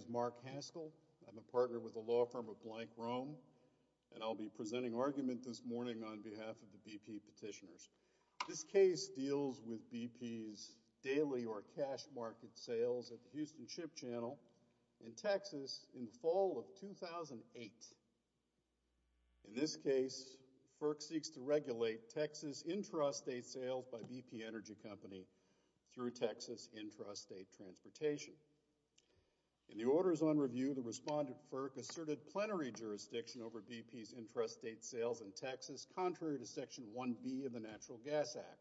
My name is Mark Haskell. I'm a partner with the law firm of Blank Rome, and I'll be presenting argument this morning on behalf of the BP petitioners. This case deals with BP's daily or cash market sales at the Houston Ship Channel in Texas in the fall of 2008. In this case, FERC seeks to regulate Texas intrastate sales by BP Energy Company through Texas intrastate transportation. In the orders on review, the respondent, FERC, asserted plenary jurisdiction over BP's intrastate sales in Texas, contrary to Section 1B of the Natural Gas Act,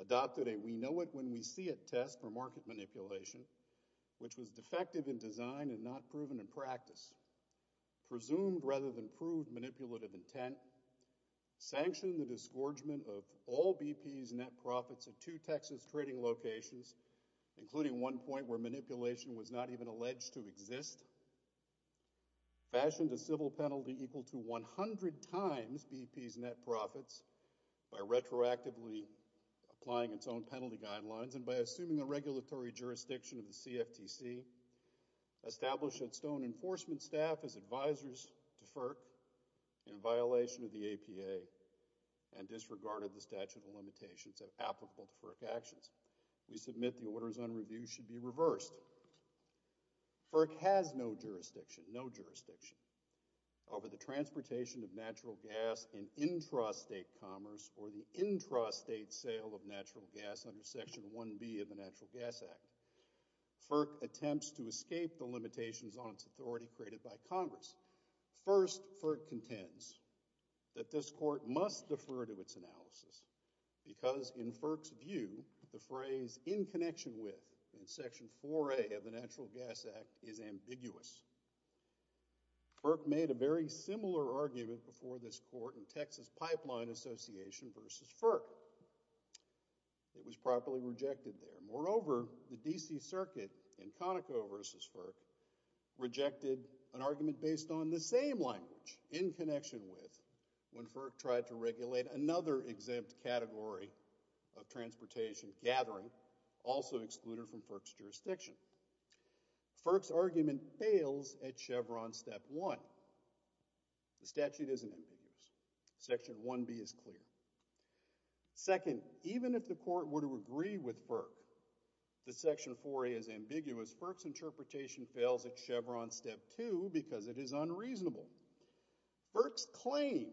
adopted a we-know-it-when-we-see-it test for market manipulation, which was defective in design and not proven in practice, presumed rather than proved manipulative intent, sanctioned a scourgement of all BP's net profits at two Texas trading locations, including one point where manipulation was not even alleged to exist, fashioned a civil penalty equal to 100 times BP's net profits by retroactively applying its own penalty guidelines, and by assuming the regulatory jurisdiction of the CFTC, established its own enforcement staff as advisors to FERC in violation of the APA and disregarded the statute of limitations applicable to FERC actions. We submit the orders on review should be reversed. FERC has no jurisdiction over the transportation of natural gas in intrastate commerce or the intrastate sale of natural gas under Section 1B of the Natural Gas Act. FERC attempts to defend itself in Congress. First, FERC contends that this court must defer to its analysis because in FERC's view, the phrase, in connection with, in Section 4A of the Natural Gas Act is ambiguous. FERC made a very similar argument before this court in Texas Pipeline Association v. FERC. It was properly rejected there. Moreover, the D.C. Circuit in Conoco v. FERC rejected an argument based on the same language, in connection with, when FERC tried to regulate another exempt category of transportation, gathering, also excluded from FERC's jurisdiction. FERC's argument fails at Chevron Step 1. The statute isn't ambiguous. Section 1B is clear. Second, even if the court were to agree with FERC that Section 4A is ambiguous, FERC's argument fails at Chevron Step 2 because it is unreasonable. FERC's claim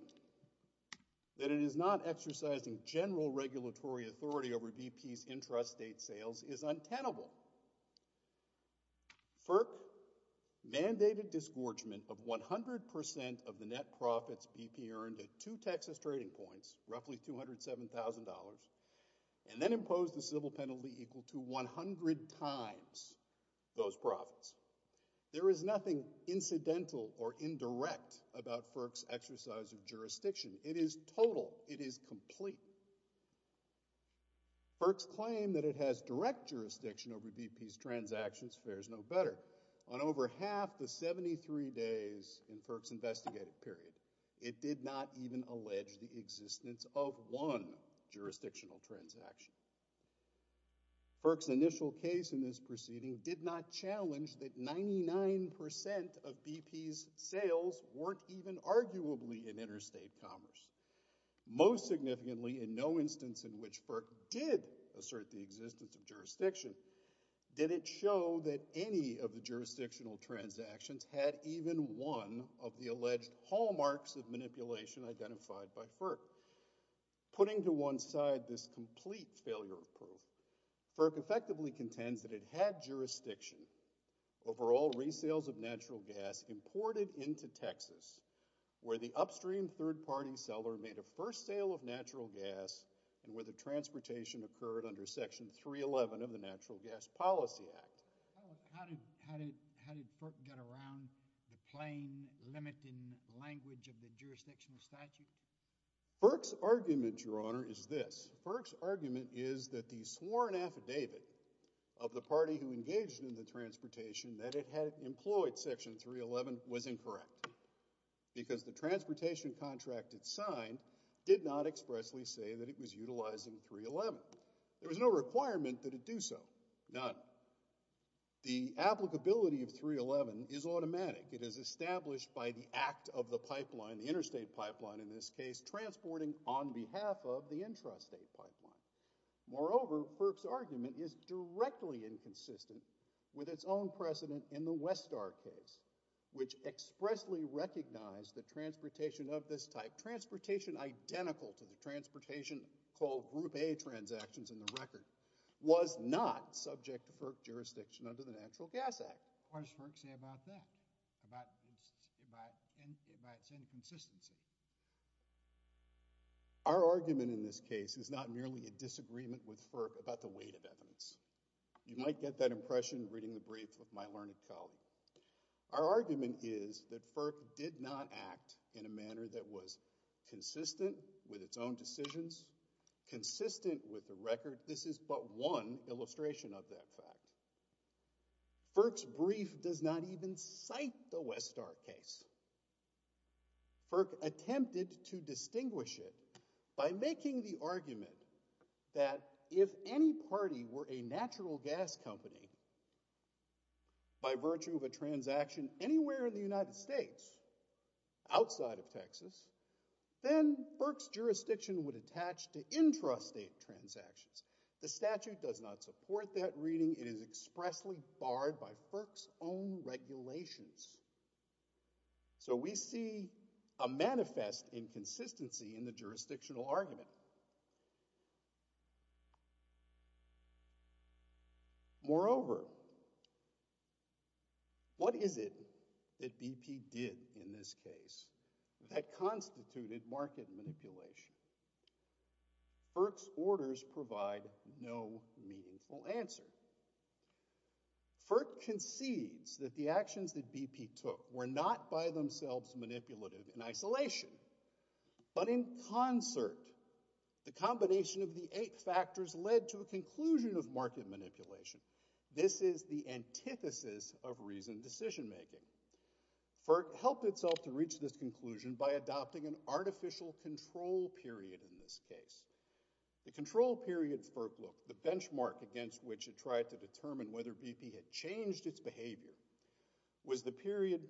that it is not exercising general regulatory authority over BP's intrastate sales is untenable. FERC mandated disgorgement of 100% of the net profits BP earned at two Texas trading points, roughly $207,000, and then imposed a civil penalty equal to 100 times those profits. There is nothing incidental or indirect about FERC's exercise of jurisdiction. It is total. It is complete. FERC's claim that it has direct jurisdiction over BP's transactions fares no better. On over half the 73 days in FERC's investigative period, it did not even allege the existence of one jurisdictional transaction. FERC's initial case in this proceeding did not challenge that 99% of BP's sales weren't even arguably in interstate commerce. Most significantly, in no instance in which FERC did assert the existence of jurisdiction did it show that any of the jurisdictional transactions had even one of the alleged hallmarks of manipulation identified by FERC. Putting to one side this complete failure of proof, FERC effectively contends that it had jurisdiction over all resales of natural gas imported into Texas where the upstream third-party seller made a first sale of natural gas and where the transportation occurred under Section 311 of the Natural Gas Policy Act. How did FERC get around the plain, limiting language of the jurisdictional statute? FERC's argument, Your Honor, is this. FERC's argument is that the sworn affidavit of the party who engaged in the transportation that it had employed Section 311 was incorrect because the transportation contract it signed did not expressly say that it was utilizing 311. There was no requirement that it do so. None. The applicability of 311 is automatic. It is established by the act of the pipeline, the interstate pipeline in this case, transporting on behalf of the intrastate pipeline. Moreover, FERC's argument is directly inconsistent with its own precedent in the Westar case, which expressly recognized the transportation of the transportation called Group A transactions in the record was not subject to FERC jurisdiction under the Natural Gas Act. What does FERC say about that? About its inconsistency? Our argument in this case is not merely a disagreement with FERC about the weight of evidence. You might get that impression reading the briefs of my learned colleague. Our argument is that FERC did not act in a manner that was consistent with its own decisions, consistent with the record. This is but one illustration of that fact. FERC's brief does not even cite the Westar case. FERC attempted to distinguish it by making the argument that if any party were a natural gas company, by virtue of a transaction anywhere in the United States, outside of Texas, then FERC's jurisdiction would attach to intrastate transactions. The statute does not support that reading. It is expressly barred by FERC's own regulations. So, we see a manifest inconsistency in the jurisdictional argument. Moreover, what is it that BP did in this case that constituted market manipulation? FERC's orders provide no meaningful answer. FERC concedes that the actions that BP took were not by themselves manipulative in isolation, but in concert. The combination of the eight factors led to a conclusion of market manipulation. This is the antithesis of reasoned decision making. FERC helped itself to reach this conclusion by adopting an artificial control period in this case. The control period FERC looked, the benchmark against which it tried to determine whether BP had changed its behavior, was the period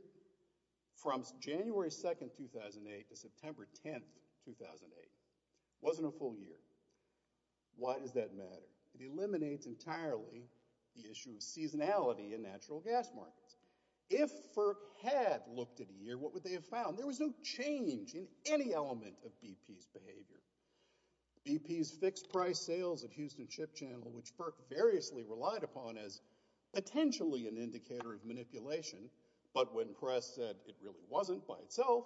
from January 2nd, 2008 to September 10th, 2008. It wasn't a full year. Why does that matter? It eliminates entirely the issue of seasonality in natural gas markets. If FERC had looked at a year, what would they have found? There was no change in any element of BP's behavior. BP's fixed price sales at Houston Ship Channel, which FERC variously relied upon as potentially an indicator of manipulation, but when press said it really wasn't by itself,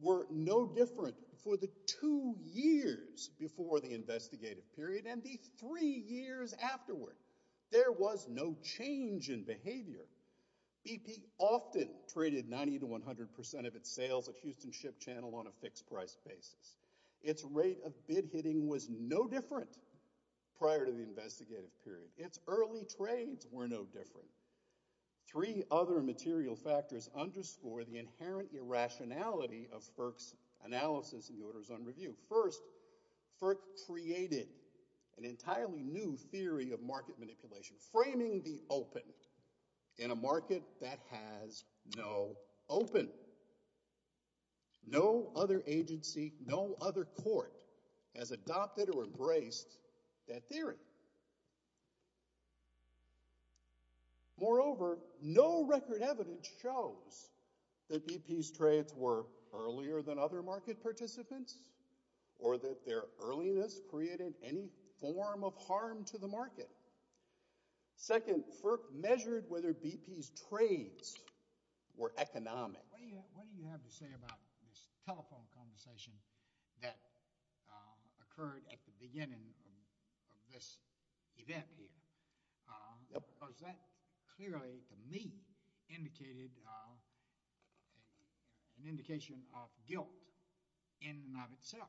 were no different for the two years before the investigative period and the three years afterward. There was no change in behavior. BP often traded 90 to 100% of its sales at Houston Ship Channel on a fixed price basis. Its rate of bid hitting was no different prior to the investigative period. Its early trades were no different. Three other material factors underscore the inherent irrationality of FERC's analysis of the orders on review. First, FERC created an entirely new theory of market manipulation, framing the open in a market that has no open. No other agency, no other court has adopted or embraced that theory. Moreover, no record evidence shows that BP's trades were earlier than other market participants or that their any form of harm to the market. Second, FERC measured whether BP's trades were economic. What do you have to say about this telephone conversation that occurred at the beginning of this event here? Was that clearly, to me, indicated an indication of guilt in and of itself?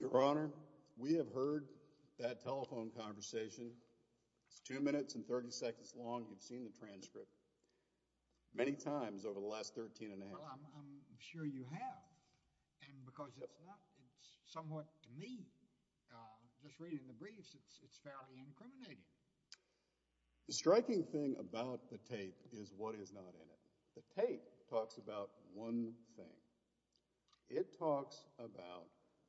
Your Honor, we have heard that telephone conversation. It's two minutes and 30 seconds long. You've seen the transcript many times over the last 13 and a half. Well, I'm sure you have. And because it's not, it's somewhat, to me, just reading the briefs, it's fairly incriminating. The striking thing about the tape is what is not in it. The tape talks about one thing. It talks about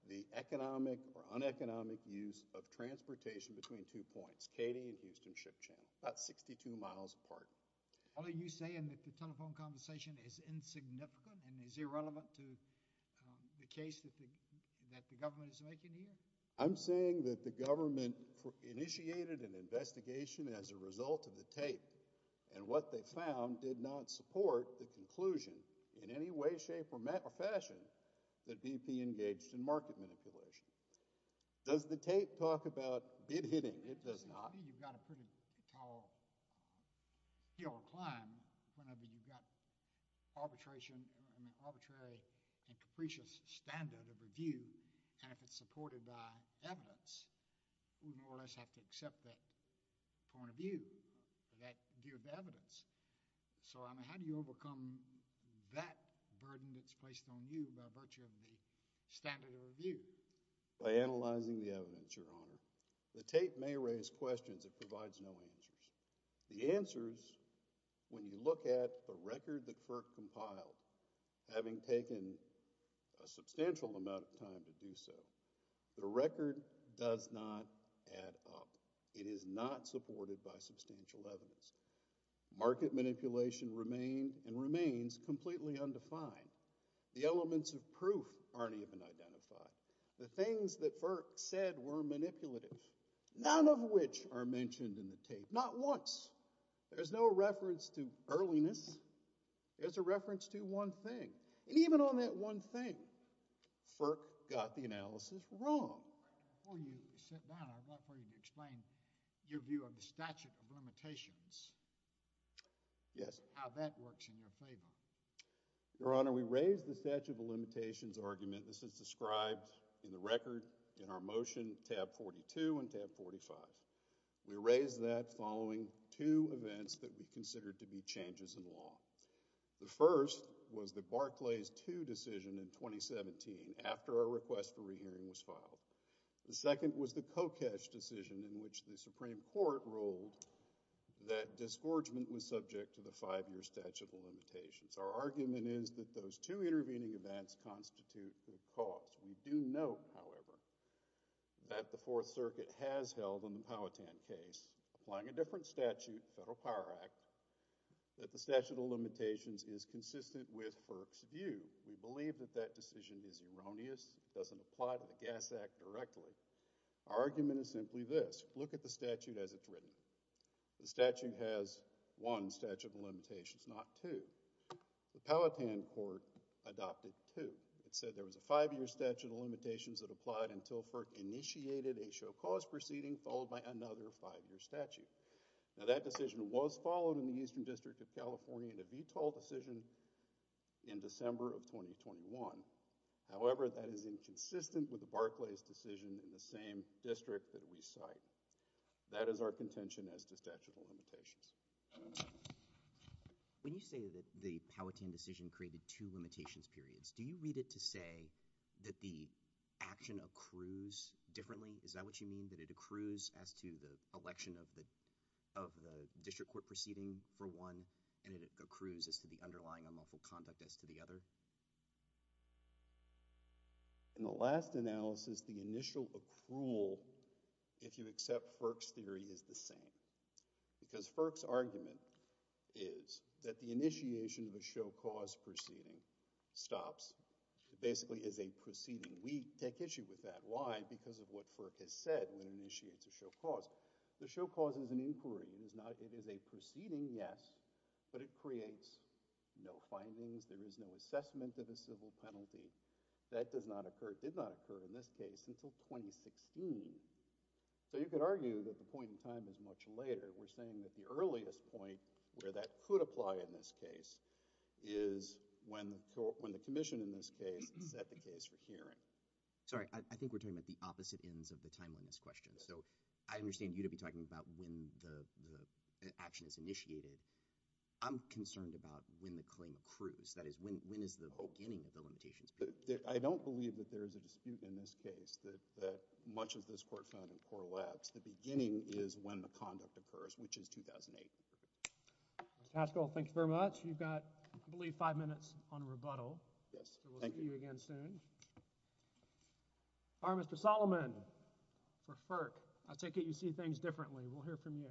the economic or uneconomic use of transportation between two points, Katy and Houston Ship Channel, about 62 miles apart. Are you saying that the telephone conversation is insignificant and is irrelevant to the case that the government is making here? I'm saying that the government initiated an investigation as a result of the tape and what they found did not support the conclusion in any way, shape, or fashion that BP engaged in market manipulation. Does the tape talk about bid hitting? It does not. You've got a pretty tall hill or climb whenever you've got arbitration, an arbitrary and capricious standard of review and if it's supported by evidence, we more or less have to accept that point of view, that view of evidence. So, I mean, how do you overcome that burden that's placed on you by virtue of the standard of review? By analyzing the evidence, Your Honor. The tape may raise questions. It provides no answers. The answers, when you look at the record that FERC compiled, having taken a substantial amount of time to do so, the record does not add up. It is not supported by substantial evidence. Market manipulation remained and remains completely undefined. The elements of proof aren't even identified. The things that FERC said were manipulative, none of which are mentioned in the tape. Not once. There's no reference to earliness. There's a reference to one thing. And even on that one thing, FERC got the analysis wrong. Before you sit down, I'd like for you to explain your view of the statute of limitations. Yes. How that works in your favor. Your Honor, we raised the statute of limitations argument. This is described in the record in our motion, tab 42 and tab 45. We raised that following two events that we considered to be changes in law. The first was the Barclays 2 decision in 2017, after our request for re-hearing was filed. The second was the Kokesh decision in which the Supreme Court ruled that our argument is that those two intervening events constitute the cause. We do note, however, that the Fourth Circuit has held in the Powhatan case, applying a different statute, the Federal Power Act, that the statute of limitations is consistent with FERC's view. We believe that that decision is erroneous. It doesn't apply to the Gas Act directly. Our argument is simply this. Look at the statute as it's written. The statute has one statute of limitations, not two. The Powhatan court adopted two. It said there was a five-year statute of limitations that applied until FERC initiated a show cause proceeding followed by another five-year statute. Now, that decision was followed in the Eastern District of California in a VTOL decision in December of 2021. However, that is inconsistent with the Barclays decision in the same district that we cite. That is our contention as to statute of limitations. When you say that the Powhatan decision created two limitations periods, do you read it to say that the action accrues differently? Is that what you mean, that it accrues as to the election of the district court proceeding for one and it accrues as to the underlying unlawful conduct as to the other? In the last analysis, the initial accrual, if you accept FERC's theory, is the same. Because FERC's argument is that the initiation of a show cause proceeding stops. It basically is a proceeding. We take issue with that. Why? Because of what FERC has said when it initiates a show cause. The show cause is an inquiry. It is a proceeding, yes, but it creates no findings. There is no assessment of a civil penalty. That did not occur in this case until 2016. You could argue that the point in time is much later. We're saying that the earliest point where that could apply in this case is when the commission in this case set the case for hearing. Sorry, I think we're talking about the opposite ends of the timeline in this question. I understand you to be talking about when the action is initiated. I'm concerned about when the claim accrues. That is, when is the beginning of the limitations? I don't believe that there is a dispute in this case that much of this court found in poor labs. The beginning is when the conduct occurs, which is 2008. Mr. Haskell, thank you very much. You've got, I believe, five minutes on rebuttal. We'll see you again soon. Mr. Solomon for FERC. I take it you see things differently. We'll hear from you.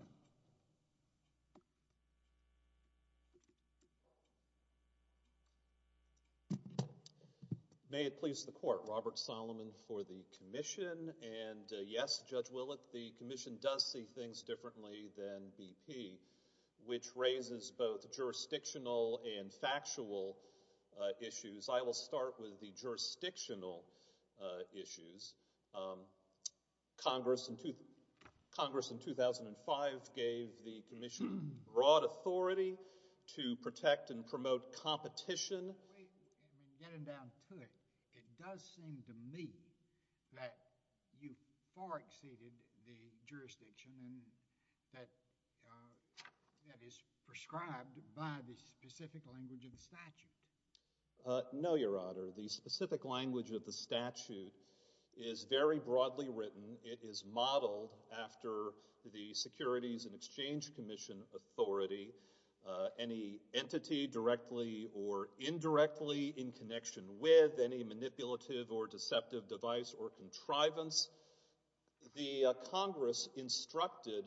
May it please the court. Robert Solomon for the commission. Yes, Judge Willett, the commission does see things differently than BP, which raises both jurisdictional and factual issues. I will start with the jurisdictional issues. Congress in 2005 gave the commission broad authority to protect and promote competition. Getting down to it, it does seem to me that you far exceeded the jurisdiction that is prescribed by the specific language of the statute. No, Your Honor. The specific language of the statute is very broadly written. It is modeled after the Securities and Exchange Commission authority. Any entity directly or indirectly in connection with any manipulative or deceptive device or contrivance. The Congress instructed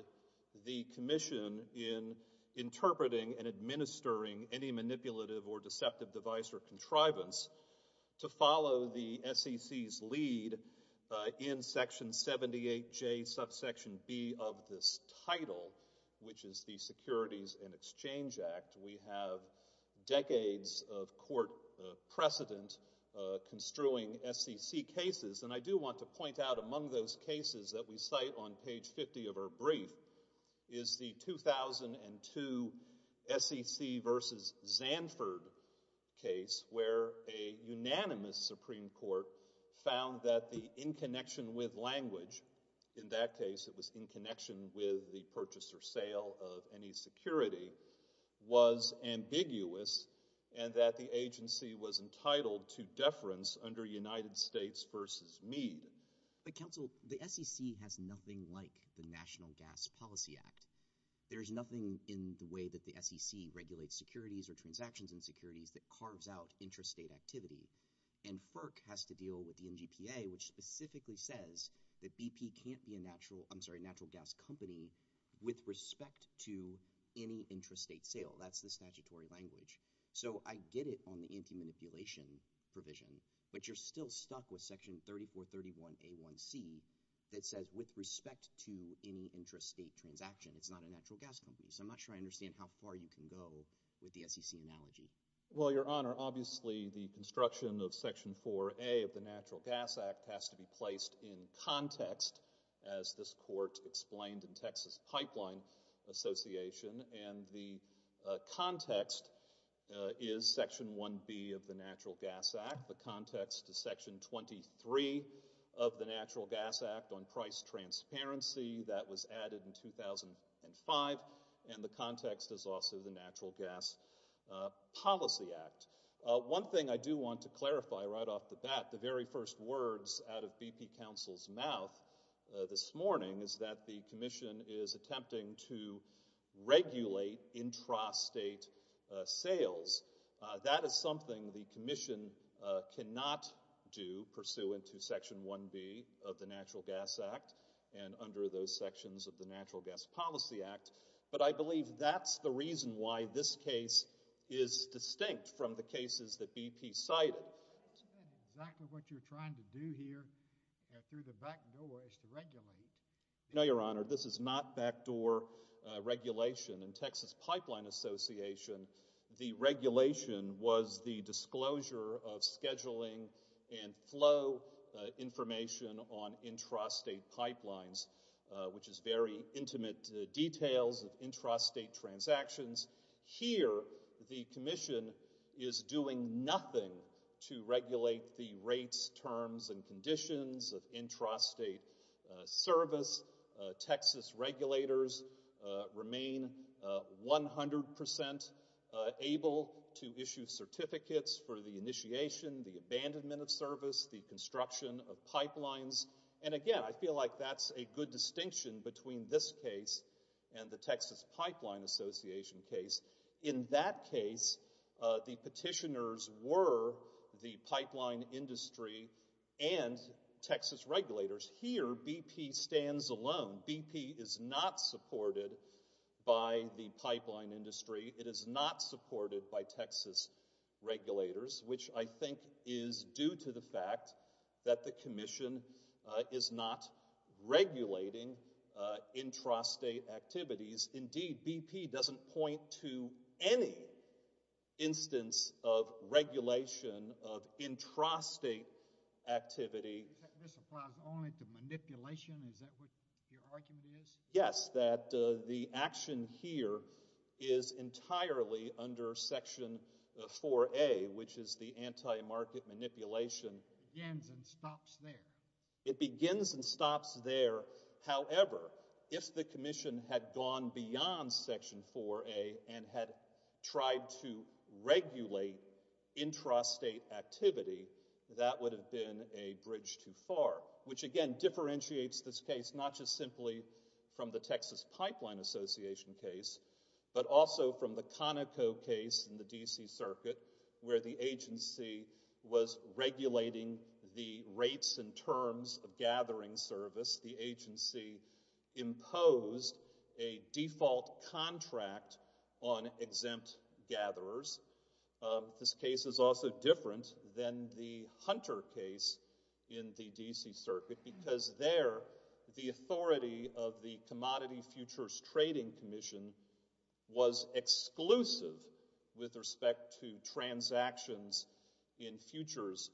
the commission in interpreting and administering any manipulative or deceptive device or contrivance to follow the SEC's lead in Section 78J, Subsection B of this title, which is the Securities and Exchange Act. We have decades of court precedent construing SEC cases. I do want to point out among those cases that we cite on page 50 of our brief is the 2002 SEC v. Zanford case where a unanimous Supreme Court found that the in connection with language, in that case it was in connection with the purchase or sale of any security, was ambiguous and that the agency was entitled to deference under United States v. Meade. But counsel, the SEC has nothing like the National Gas Policy Act. There is nothing in the way that the SEC regulates securities or transactions in securities that carves out intrastate activity. And FERC has to deal with the NGPA, which specifically says that BP can't be a natural gas company with respect to any intrastate sale. That's the statutory language. So I get it on the anti-manipulation provision, but you're still stuck with Section 3431A1C that says with respect to any intrastate transaction, it's not a natural gas company. So I'm not sure I understand how far you can go with the SEC analogy. Well, Your Honor, obviously the construction of Section 4A of the Natural Gas Act has to be placed in context as this court explained in Texas Pipeline Association. And the context is Section 1B of the Natural Gas Act. The context is Section 23 of the Natural Gas Act on price transparency that was added in 2005. And the context is also the Natural Gas Policy Act. One thing I do want to clarify right off the bat, the very first words out of BP counsel's mouth this morning is that the Commission is attempting to regulate intrastate sales. That is something the Commission cannot do pursuant to Section 1B of the Natural Gas Act and under those sections of the Natural Gas Policy Act. But I believe that's the reason why this case is distinct from the cases that BP cited. Isn't that exactly what you're trying to do here through the backdoor is to regulate? No, Your Honor, this is not backdoor regulation. In Texas Pipeline Association, the regulation was the disclosure of scheduling and flow information on intrastate pipelines, which is very intimate details of intrastate transactions. Here, the Commission is doing nothing to regulate the rates, terms, and conditions of intrastate service. Texas regulators remain 100% able to issue certificates for the initiation, the abandonment of service, the construction of pipelines. And again, I feel like that's a good distinction between this case and the Texas Pipeline Association case. In that case, the petitioners were the pipeline industry and Texas regulators. Here, BP stands alone. BP is not supported by the pipeline industry. It is not supported by Texas regulators, which I think is due to the fact that the Commission is not regulating intrastate activities. Indeed, BP doesn't point to any instance of regulation of intrastate activity. This applies only to manipulation? Is that what your argument is? Yes, that the action here is entirely under Section 4A, which is the anti-market manipulation. It begins and stops there. It begins and stops there. However, if the Commission had gone beyond Section 4A and had tried to regulate intrastate activity, that would have been a bridge too far, which again differentiates this case not just simply from the Texas Pipeline Association case, but also from the Conoco case in the D.C. Circuit, where the agency was regulating the rates and terms of gathering service. The agency imposed a default contract on exempt gatherers. This case is also different than the Hunter case in the D.C. Circuit because there the authority of the Commodity Futures Trading Commission was exclusive with respect to transactions in futures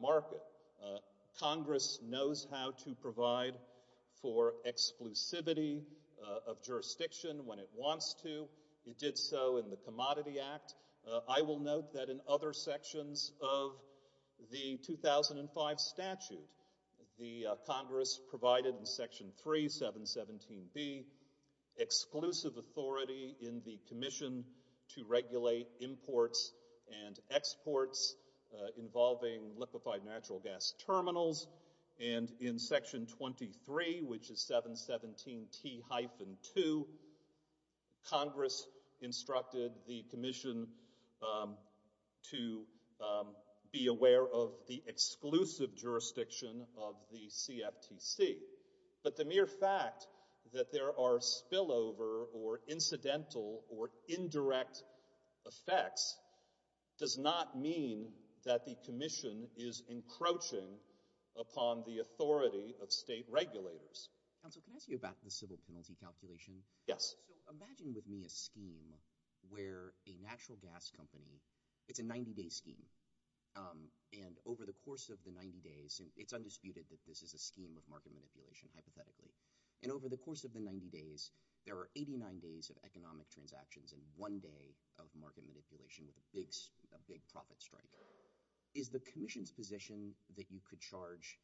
market. Congress knows how to provide for exclusivity of jurisdiction when it wants to. It did so in the Commodity Act. I will note that in other sections of the 2005 statute, the Congress provided in Section 3, 717B, exclusive authority in the Commission to regulate imports and exports involving liquefied natural gas terminals. And in Section 23, which is 717T-2, Congress instructed the Commission to be aware of the exclusive jurisdiction of the CFTC. But the mere fact that there are spillover or incidental or indirect effects does not mean that the Commission is encroaching upon the authority of state regulators. Counsel, can I ask you about the civil penalty calculation? Yes. Imagine with me a scheme where a natural gas company, it's a 90-day scheme. And over the course of the 90 days, it's undisputed that this is a scheme of market manipulation, hypothetically. And over the course of the 90 days, there are 89 days of economic transactions and one day of market manipulation with a big profit strike. Is the Commission's position that you could charge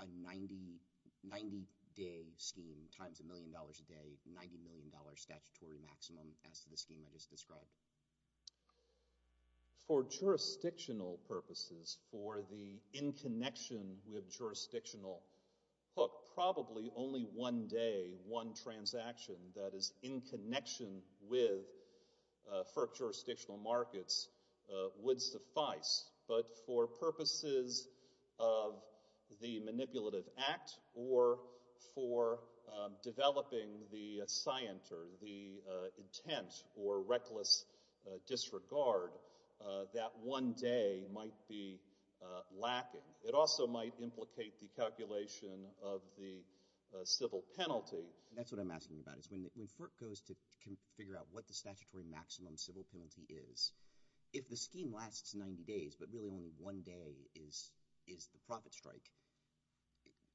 a 90-day scheme times a million dollars a day, 90 million dollars statutory maximum, as to the scheme I just described? For jurisdictional purposes, for the in connection with jurisdictional hook, probably only one day, one transaction that is in connection with FERC jurisdictional markets would suffice. But for purposes of the manipulative act or for developing the scient or the intent or reckless disregard, that one day might be lacking. It also might implicate the calculation of the civil penalty. That's what I'm asking about. When FERC goes to figure out what the statutory maximum civil penalty is, if the scheme lasts 90 days, but really only one day is the profit strike,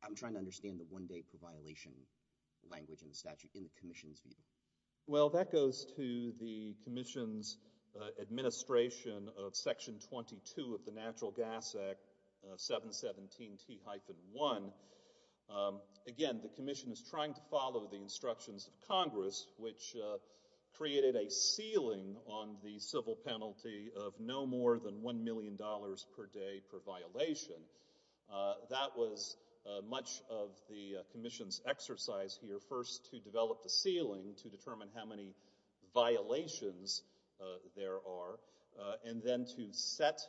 I'm trying to understand the one day per violation language in the statute in the Commission's view. Well, that goes to the Commission's administration of Section 22 of the Natural Gas Act, 717T-1. Again, the Commission is trying to follow the instructions of Congress, which created a ceiling on the civil penalty of no more than one million dollars per day per violation. That was much of the Commission's exercise here, first to develop the ceiling to determine how many violations there are, and then to set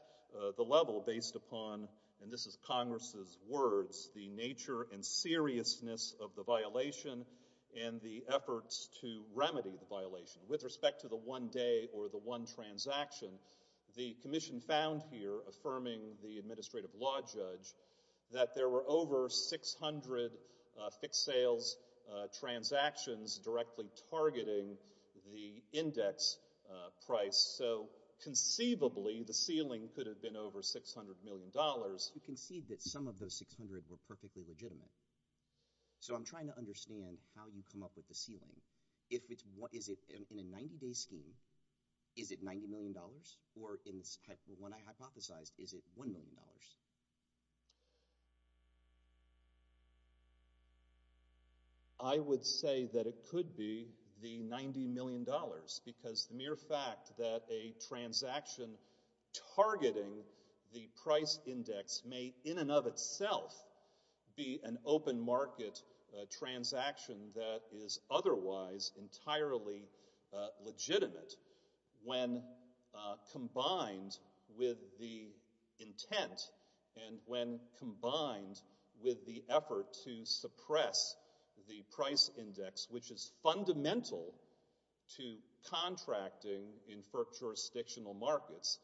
the level based upon, and this is Congress's words, the nature and seriousness of the violation and the efforts to remedy the violation. With respect to the one day or the one transaction, the Commission found here, affirming the administrative law judge, that there were over 600 fixed sales transactions directly targeting the index price. So, conceivably, the ceiling could have been over 600 million dollars. You concede that some of those 600 were perfectly legitimate. So I'm trying to understand how you come up with the ceiling. Is it in a 90-day scheme, is it 90 million dollars? Or, when I hypothesized, is it one million dollars? I would say that it could be the 90 million dollars because the mere fact that a transaction targeting the price index may, in and of itself, be an open market transaction that is otherwise entirely legitimate, when combined with the intent, and when combined with the effort to suppress the price index, which is fundamental to contracting in FERC jurisdictional markets.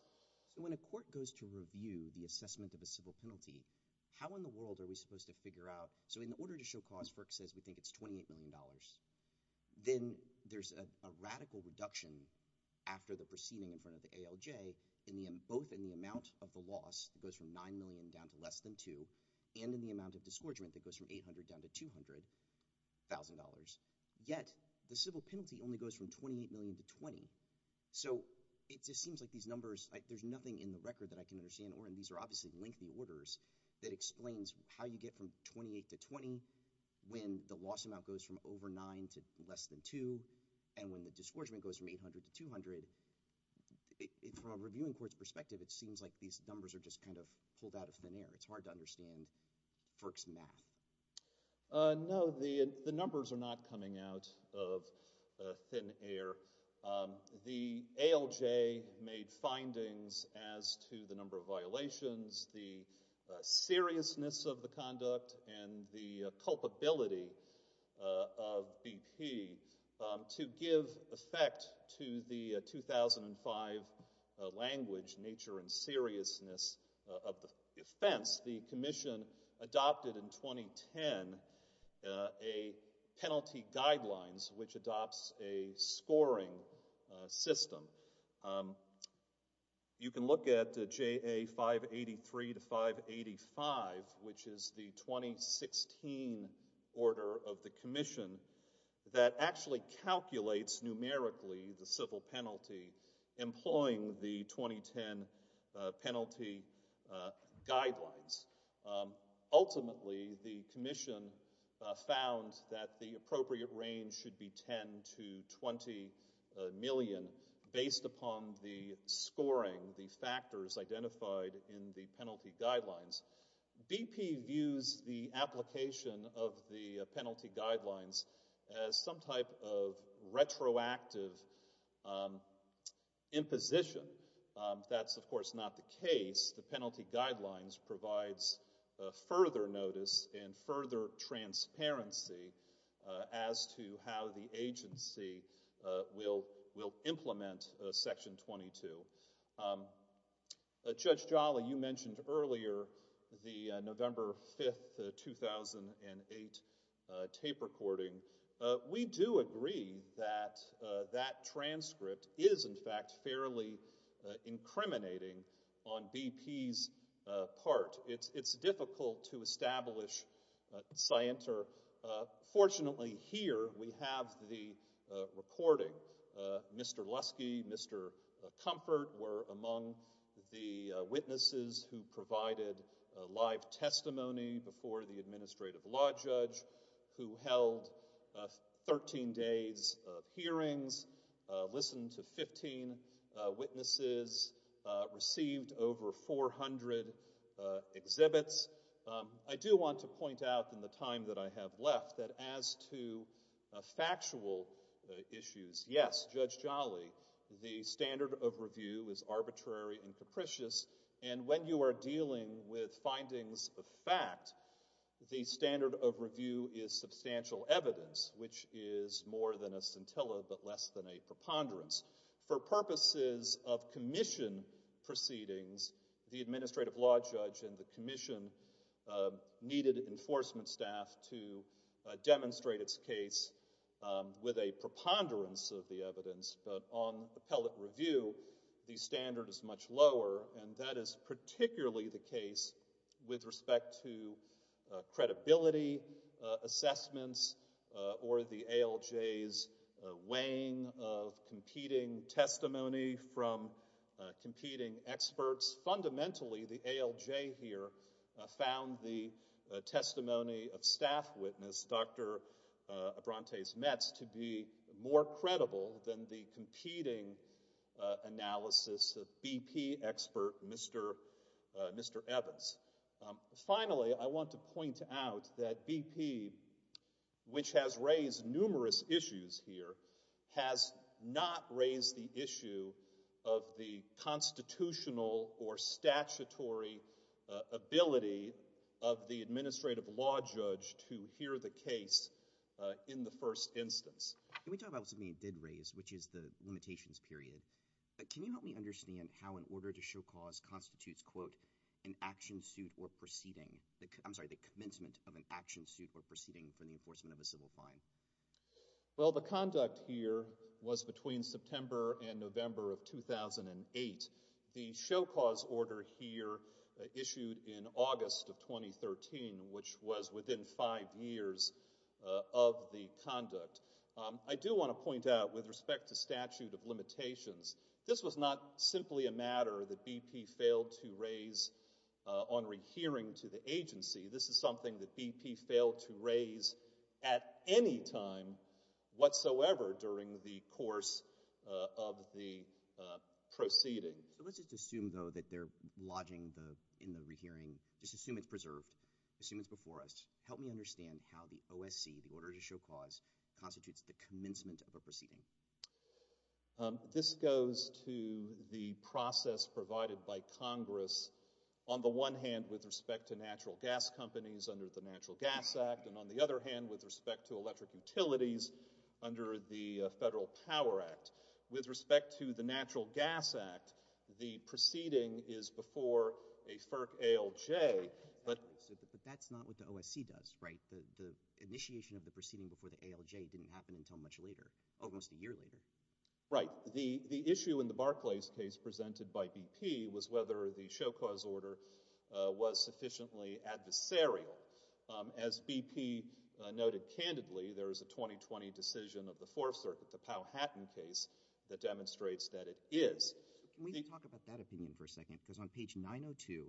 So when a court goes to review the assessment of a civil penalty, how in the world are we supposed to figure out, so in order to show cause, FERC says we think it's 28 million dollars, then there's a radical reduction after the proceeding in front of the ALJ, both in the amount of the loss, that goes from 9 million down to less than 2, and in the amount of disgorgement that goes from 800 down to 200 thousand dollars. Yet, the civil penalty only goes from 28 million to 20. So it just seems like these numbers, there's nothing in the record that I can understand, and these are obviously lengthy orders, that explains how you get from 28 to 20, when the loss amount goes from over 9 to less than 2, and when the disgorgement goes from 800 to 200. From a reviewing court's perspective, it seems like these numbers are just kind of pulled out of thin air. It's hard to understand FERC's math. No, the numbers are not coming out of thin air. The ALJ made findings as to the number of violations, the seriousness of the conduct, and the culpability of BP to give effect to the 2005 language, nature and seriousness of the offense. The commission adopted in 2010 a penalty guidelines, which adopts a scoring system. You can look at JA 583 to 585, which is the 2016 order of the commission, that actually calculates numerically the civil penalty, employing the 2010 penalty guidelines. Ultimately, the commission found that the appropriate range should be 10 to 20 million, based upon the scoring, the factors identified in the penalty guidelines. BP views the application of the penalty guidelines as some type of retroactive imposition. That's, of course, not the case. The penalty guidelines provides further notice and further transparency as to how the agency will implement Section 22. Judge Jolly, you mentioned earlier the November 5, 2008 tape recording. We do agree that that transcript is, in fact, fairly incriminating on BP's part. It's difficult to establish scienter. Fortunately, here we have the recording. Mr. Lusky, Mr. Comfort were among the witnesses who provided live testimony before the administrative law judge, who held 13 days of hearings, listened to 15 witnesses, received over 400 exhibits. I do want to point out, in the time that I have left, that as to factual issues, yes, Judge Jolly, the standard of review is arbitrary and capricious, and when you are dealing with findings of fact, the standard of review is substantial evidence, which is more than a scintilla, but less than a preponderance. For purposes of commission proceedings, the administrative law judge and the commission needed enforcement staff to demonstrate its case with a preponderance of the evidence, but on appellate review, the standard is much lower, and that is particularly the case with respect to credibility assessments or the ALJ's weighing of competing testimony from competing experts. Fundamentally, the ALJ here found the testimony of staff witness Dr. Abrantes-Metz to be more credible than the competing analysis of BP expert Mr. Evans. Finally, I want to point out that BP, which has raised numerous issues here, has not raised the issue of the constitutional or statutory ability of the administrative law judge to hear the case in the first instance. Can we talk about something you did raise, which is the limitations period? Can you help me understand how an order to show cause constitutes, quote, an action suit or proceeding, I'm sorry, the commencement of an action suit or proceeding for the enforcement of a civil crime? Well, the conduct here was between September and November of 2008. The show cause order here issued in August of 2013, which was within five years of the conduct. I do want to point out, with respect to statute of limitations, this was not simply a matter that BP failed to raise on rehearing to the agency. This is something that BP failed to raise at any time whatsoever during the course of the proceeding. So let's just assume, though, that they're lodging in the rehearing, just assume it's preserved, assume it's before us. Help me understand how the OSC, the order to show cause, constitutes the commencement of a proceeding. This goes to the process provided by Congress on the one hand with respect to natural gas companies under the Natural Gas Act, and on the other hand with respect to electric utilities under the Federal Power Act. With respect to the Natural Gas Act, the proceeding is before a FERC ALJ, but... But that's not what the OSC does, right? The initiation of the proceeding before the ALJ didn't happen until much later, almost a year later. Right. The issue in the Barclays case presented by BP was whether the show cause order was sufficiently adversarial. As BP noted candidly, there is a 2020 decision of the Fourth Circuit, the Powhatan case, that demonstrates that it is. Can we talk about that opinion for a second? Because on page 902,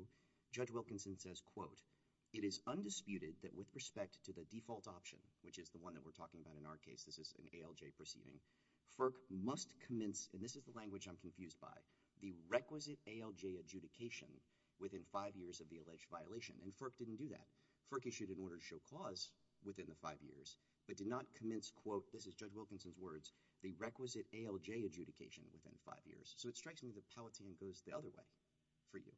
Judge Wilkinson says, quote, it is undisputed that with respect to the default option, which is the one that we're talking about in our case, this is an ALJ proceeding, FERC must commence, and this is the language I'm confused by, the requisite ALJ adjudication within five years of the alleged violation. And FERC didn't do that. FERC issued an order to show cause within the five years, but did not commence, quote, this is Judge Wilkinson's words, the requisite ALJ adjudication within five years. So it strikes me that Powhatan goes the other way for you.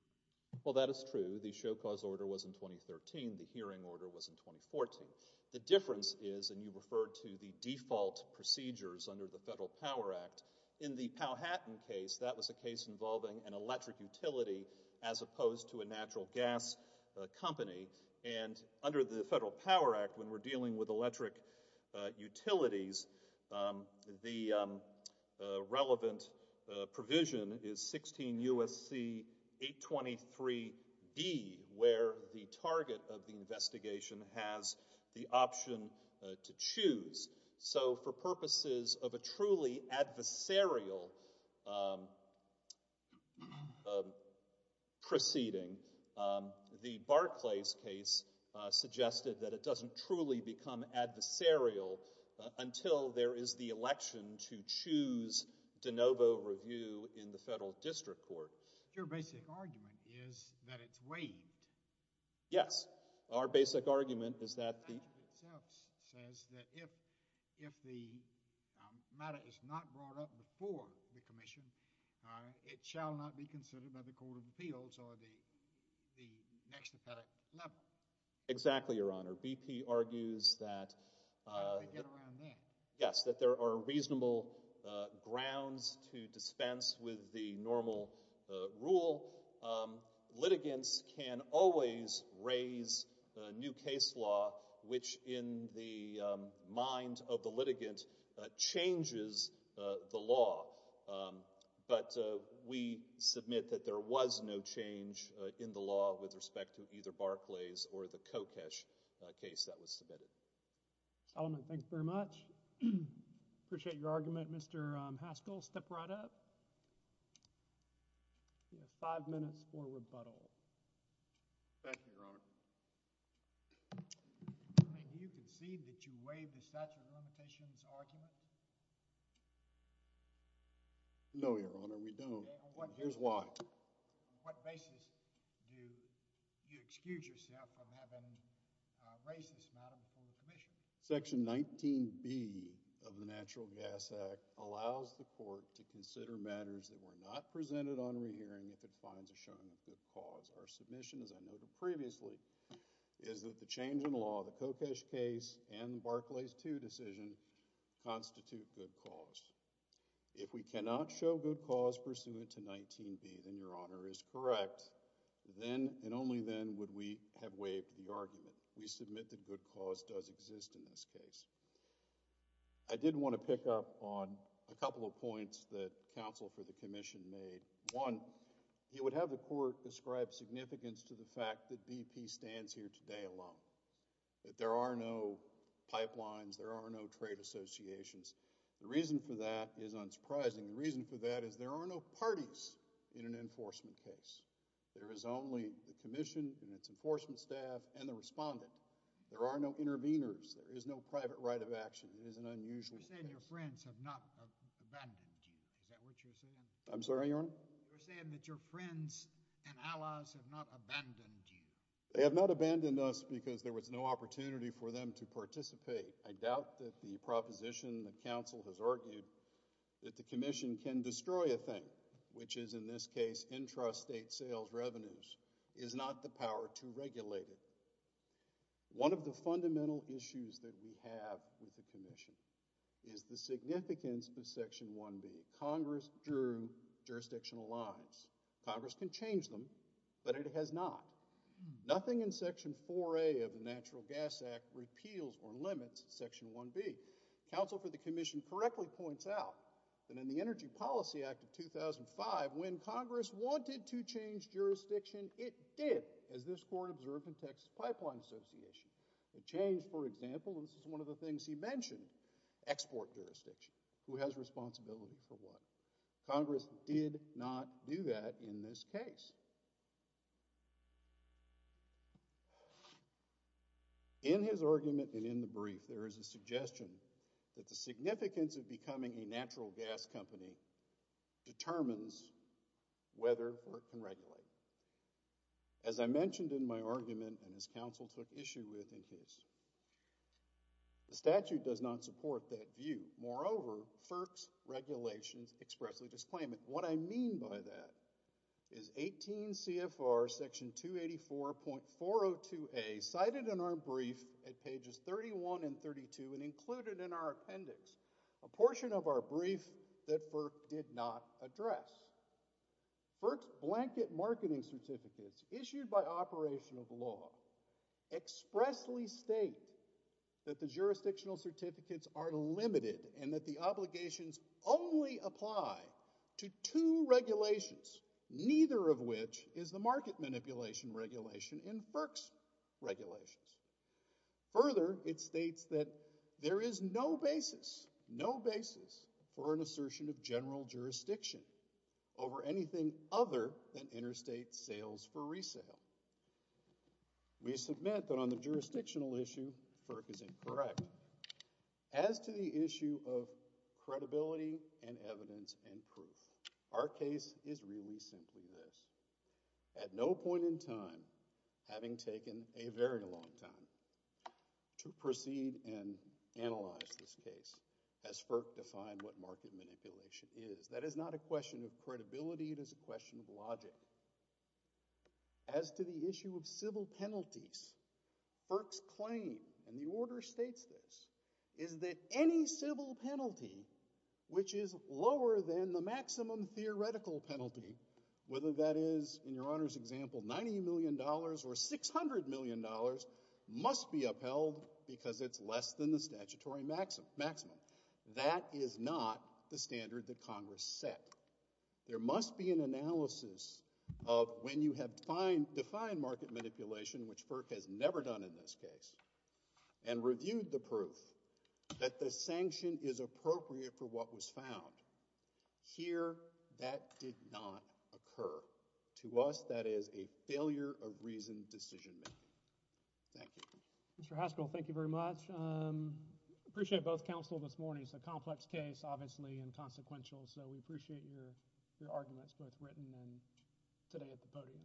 Well, that is true. The show cause order was in 2013. The hearing order was in 2014. The difference is, and you referred to the default procedures under the Federal Power Act, in the Powhatan case, that was a case involving an electric utility as opposed to a natural gas company. And under the Federal Power Act, when we're dealing with electric utilities, the relevant provision is 16 U.S.C. 823-D, where the target of the investigation has the option to choose. So for purposes of a truly adversarial proceeding, the Barclays case suggested that it doesn't truly become adversarial until there is the election to choose de novo review in the Federal District Court. Your basic argument is that it's waived. Yes. Our basic argument is that the... if the matter is not brought up before the Commission, it shall not be considered by the Court of Appeals or the next appellate level. Exactly, Your Honor. BP argues that... How did they get around that? Yes, that there are reasonable grounds to dispense with the normal rule. Litigants can always raise a new case law which, in the mind of the litigant, changes the law. But we submit that there was no change in the law with respect to either Barclays or the Kokesh case that was submitted. Solomon, thanks very much. Appreciate your argument. Mr. Haskell, step right up. You have five minutes for rebuttal. Thank you, Your Honor. You concede that you waived the statute of limitations argument? No, Your Honor, we don't. Here's why. On what basis do you excuse yourself from having raised this matter before the Commission? Section 19B of the Natural Gas Act allows the Court to consider matters that were not presented on re-hearing if it finds a showing of good cause. Our submission, as I noted previously, is that the change in law, the Kokesh case, and the Barclays 2 decision constitute good cause. If we cannot show good cause pursuant to 19B, then Your Honor is correct. Then and only then would we have waived the argument. We submit that good cause does exist in this case. I did want to pick up on a couple of points that counsel for the Commission made. One, he would have the Court describe significance to the fact that BP stands here today alone, that there are no pipelines, there are no trade associations. The reason for that is unsurprising. The reason for that is there are no parties in an enforcement case. There is only the Commission and its enforcement staff and the respondent. There are no interveners. There is no private right of action. It is an unusual case. You're saying your friends have not abandoned you. Is that what you're saying? I'm sorry, Your Honor? You're saying that your friends and allies have not abandoned you. They have not abandoned us because there was no opportunity for them to participate. I doubt that the proposition that counsel has argued that the Commission can destroy a thing, which is in this case intrastate sales revenues, is not the power to regulate it. One of the fundamental issues that we have with the Commission is the significance of Section 1B. Congress drew jurisdictional lines. Congress can change them, but it has not. Nothing in Section 4A of the Natural Gas Act repeals or limits Section 1B. Counsel for the Commission correctly points out that in the Energy Policy Act of 2005, when Congress wanted to change jurisdiction, it did, as this court observed in Texas Pipeline Association. It changed, for example, this is one of the things he mentioned, export jurisdiction, who has responsibility for what. Congress did not do that in this case. In his argument and in the brief, there is a suggestion that the significance of becoming a natural gas company determines whether or can regulate. As I mentioned in my argument, and as counsel took issue with in his, the statute does not support that view. Moreover, FERC's regulations expressly disclaim it. What I mean by that is 18 CFR Section 284.402A, cited in our brief at pages 31 and 32, and included in our appendix, a portion of our brief that FERC did not address. FERC's blanket marketing certificates, issued by operation of law, expressly state that the jurisdictional certificates are limited and that the obligations only apply to two regulations, neither of which is the market manipulation regulation in FERC's regulations. Further, it states that there is no basis, no basis for an assertion of general jurisdiction over anything other than interstate sales for resale. We submit that on the jurisdictional issue, FERC is incorrect. As to the issue of credibility and evidence and proof, our case is really simply this. At no point in time, having taken a very long time, to proceed and analyze this case, as FERC defined what market manipulation is. That is not a question of credibility, it is a question of logic. As to the issue of civil penalties, FERC's claim, and the order states this, is that any civil penalty which is lower than the maximum theoretical penalty, whether that is, in your honor's example, 90 million dollars, or 600 million dollars, must be upheld, because it's less than the statutory maximum. That is not the standard that Congress set. There must be an analysis of when you have defined market manipulation, which FERC has never done in this case, and reviewed the proof that the sanction is appropriate for what was found. Here, that did not occur. To us, that is a failure of reasoned decision making. Thank you. Mr. Haskell, thank you very much. Appreciate both counsel this morning. It's a complex case, obviously, and consequential, so we appreciate your arguments, both written and today at the podium.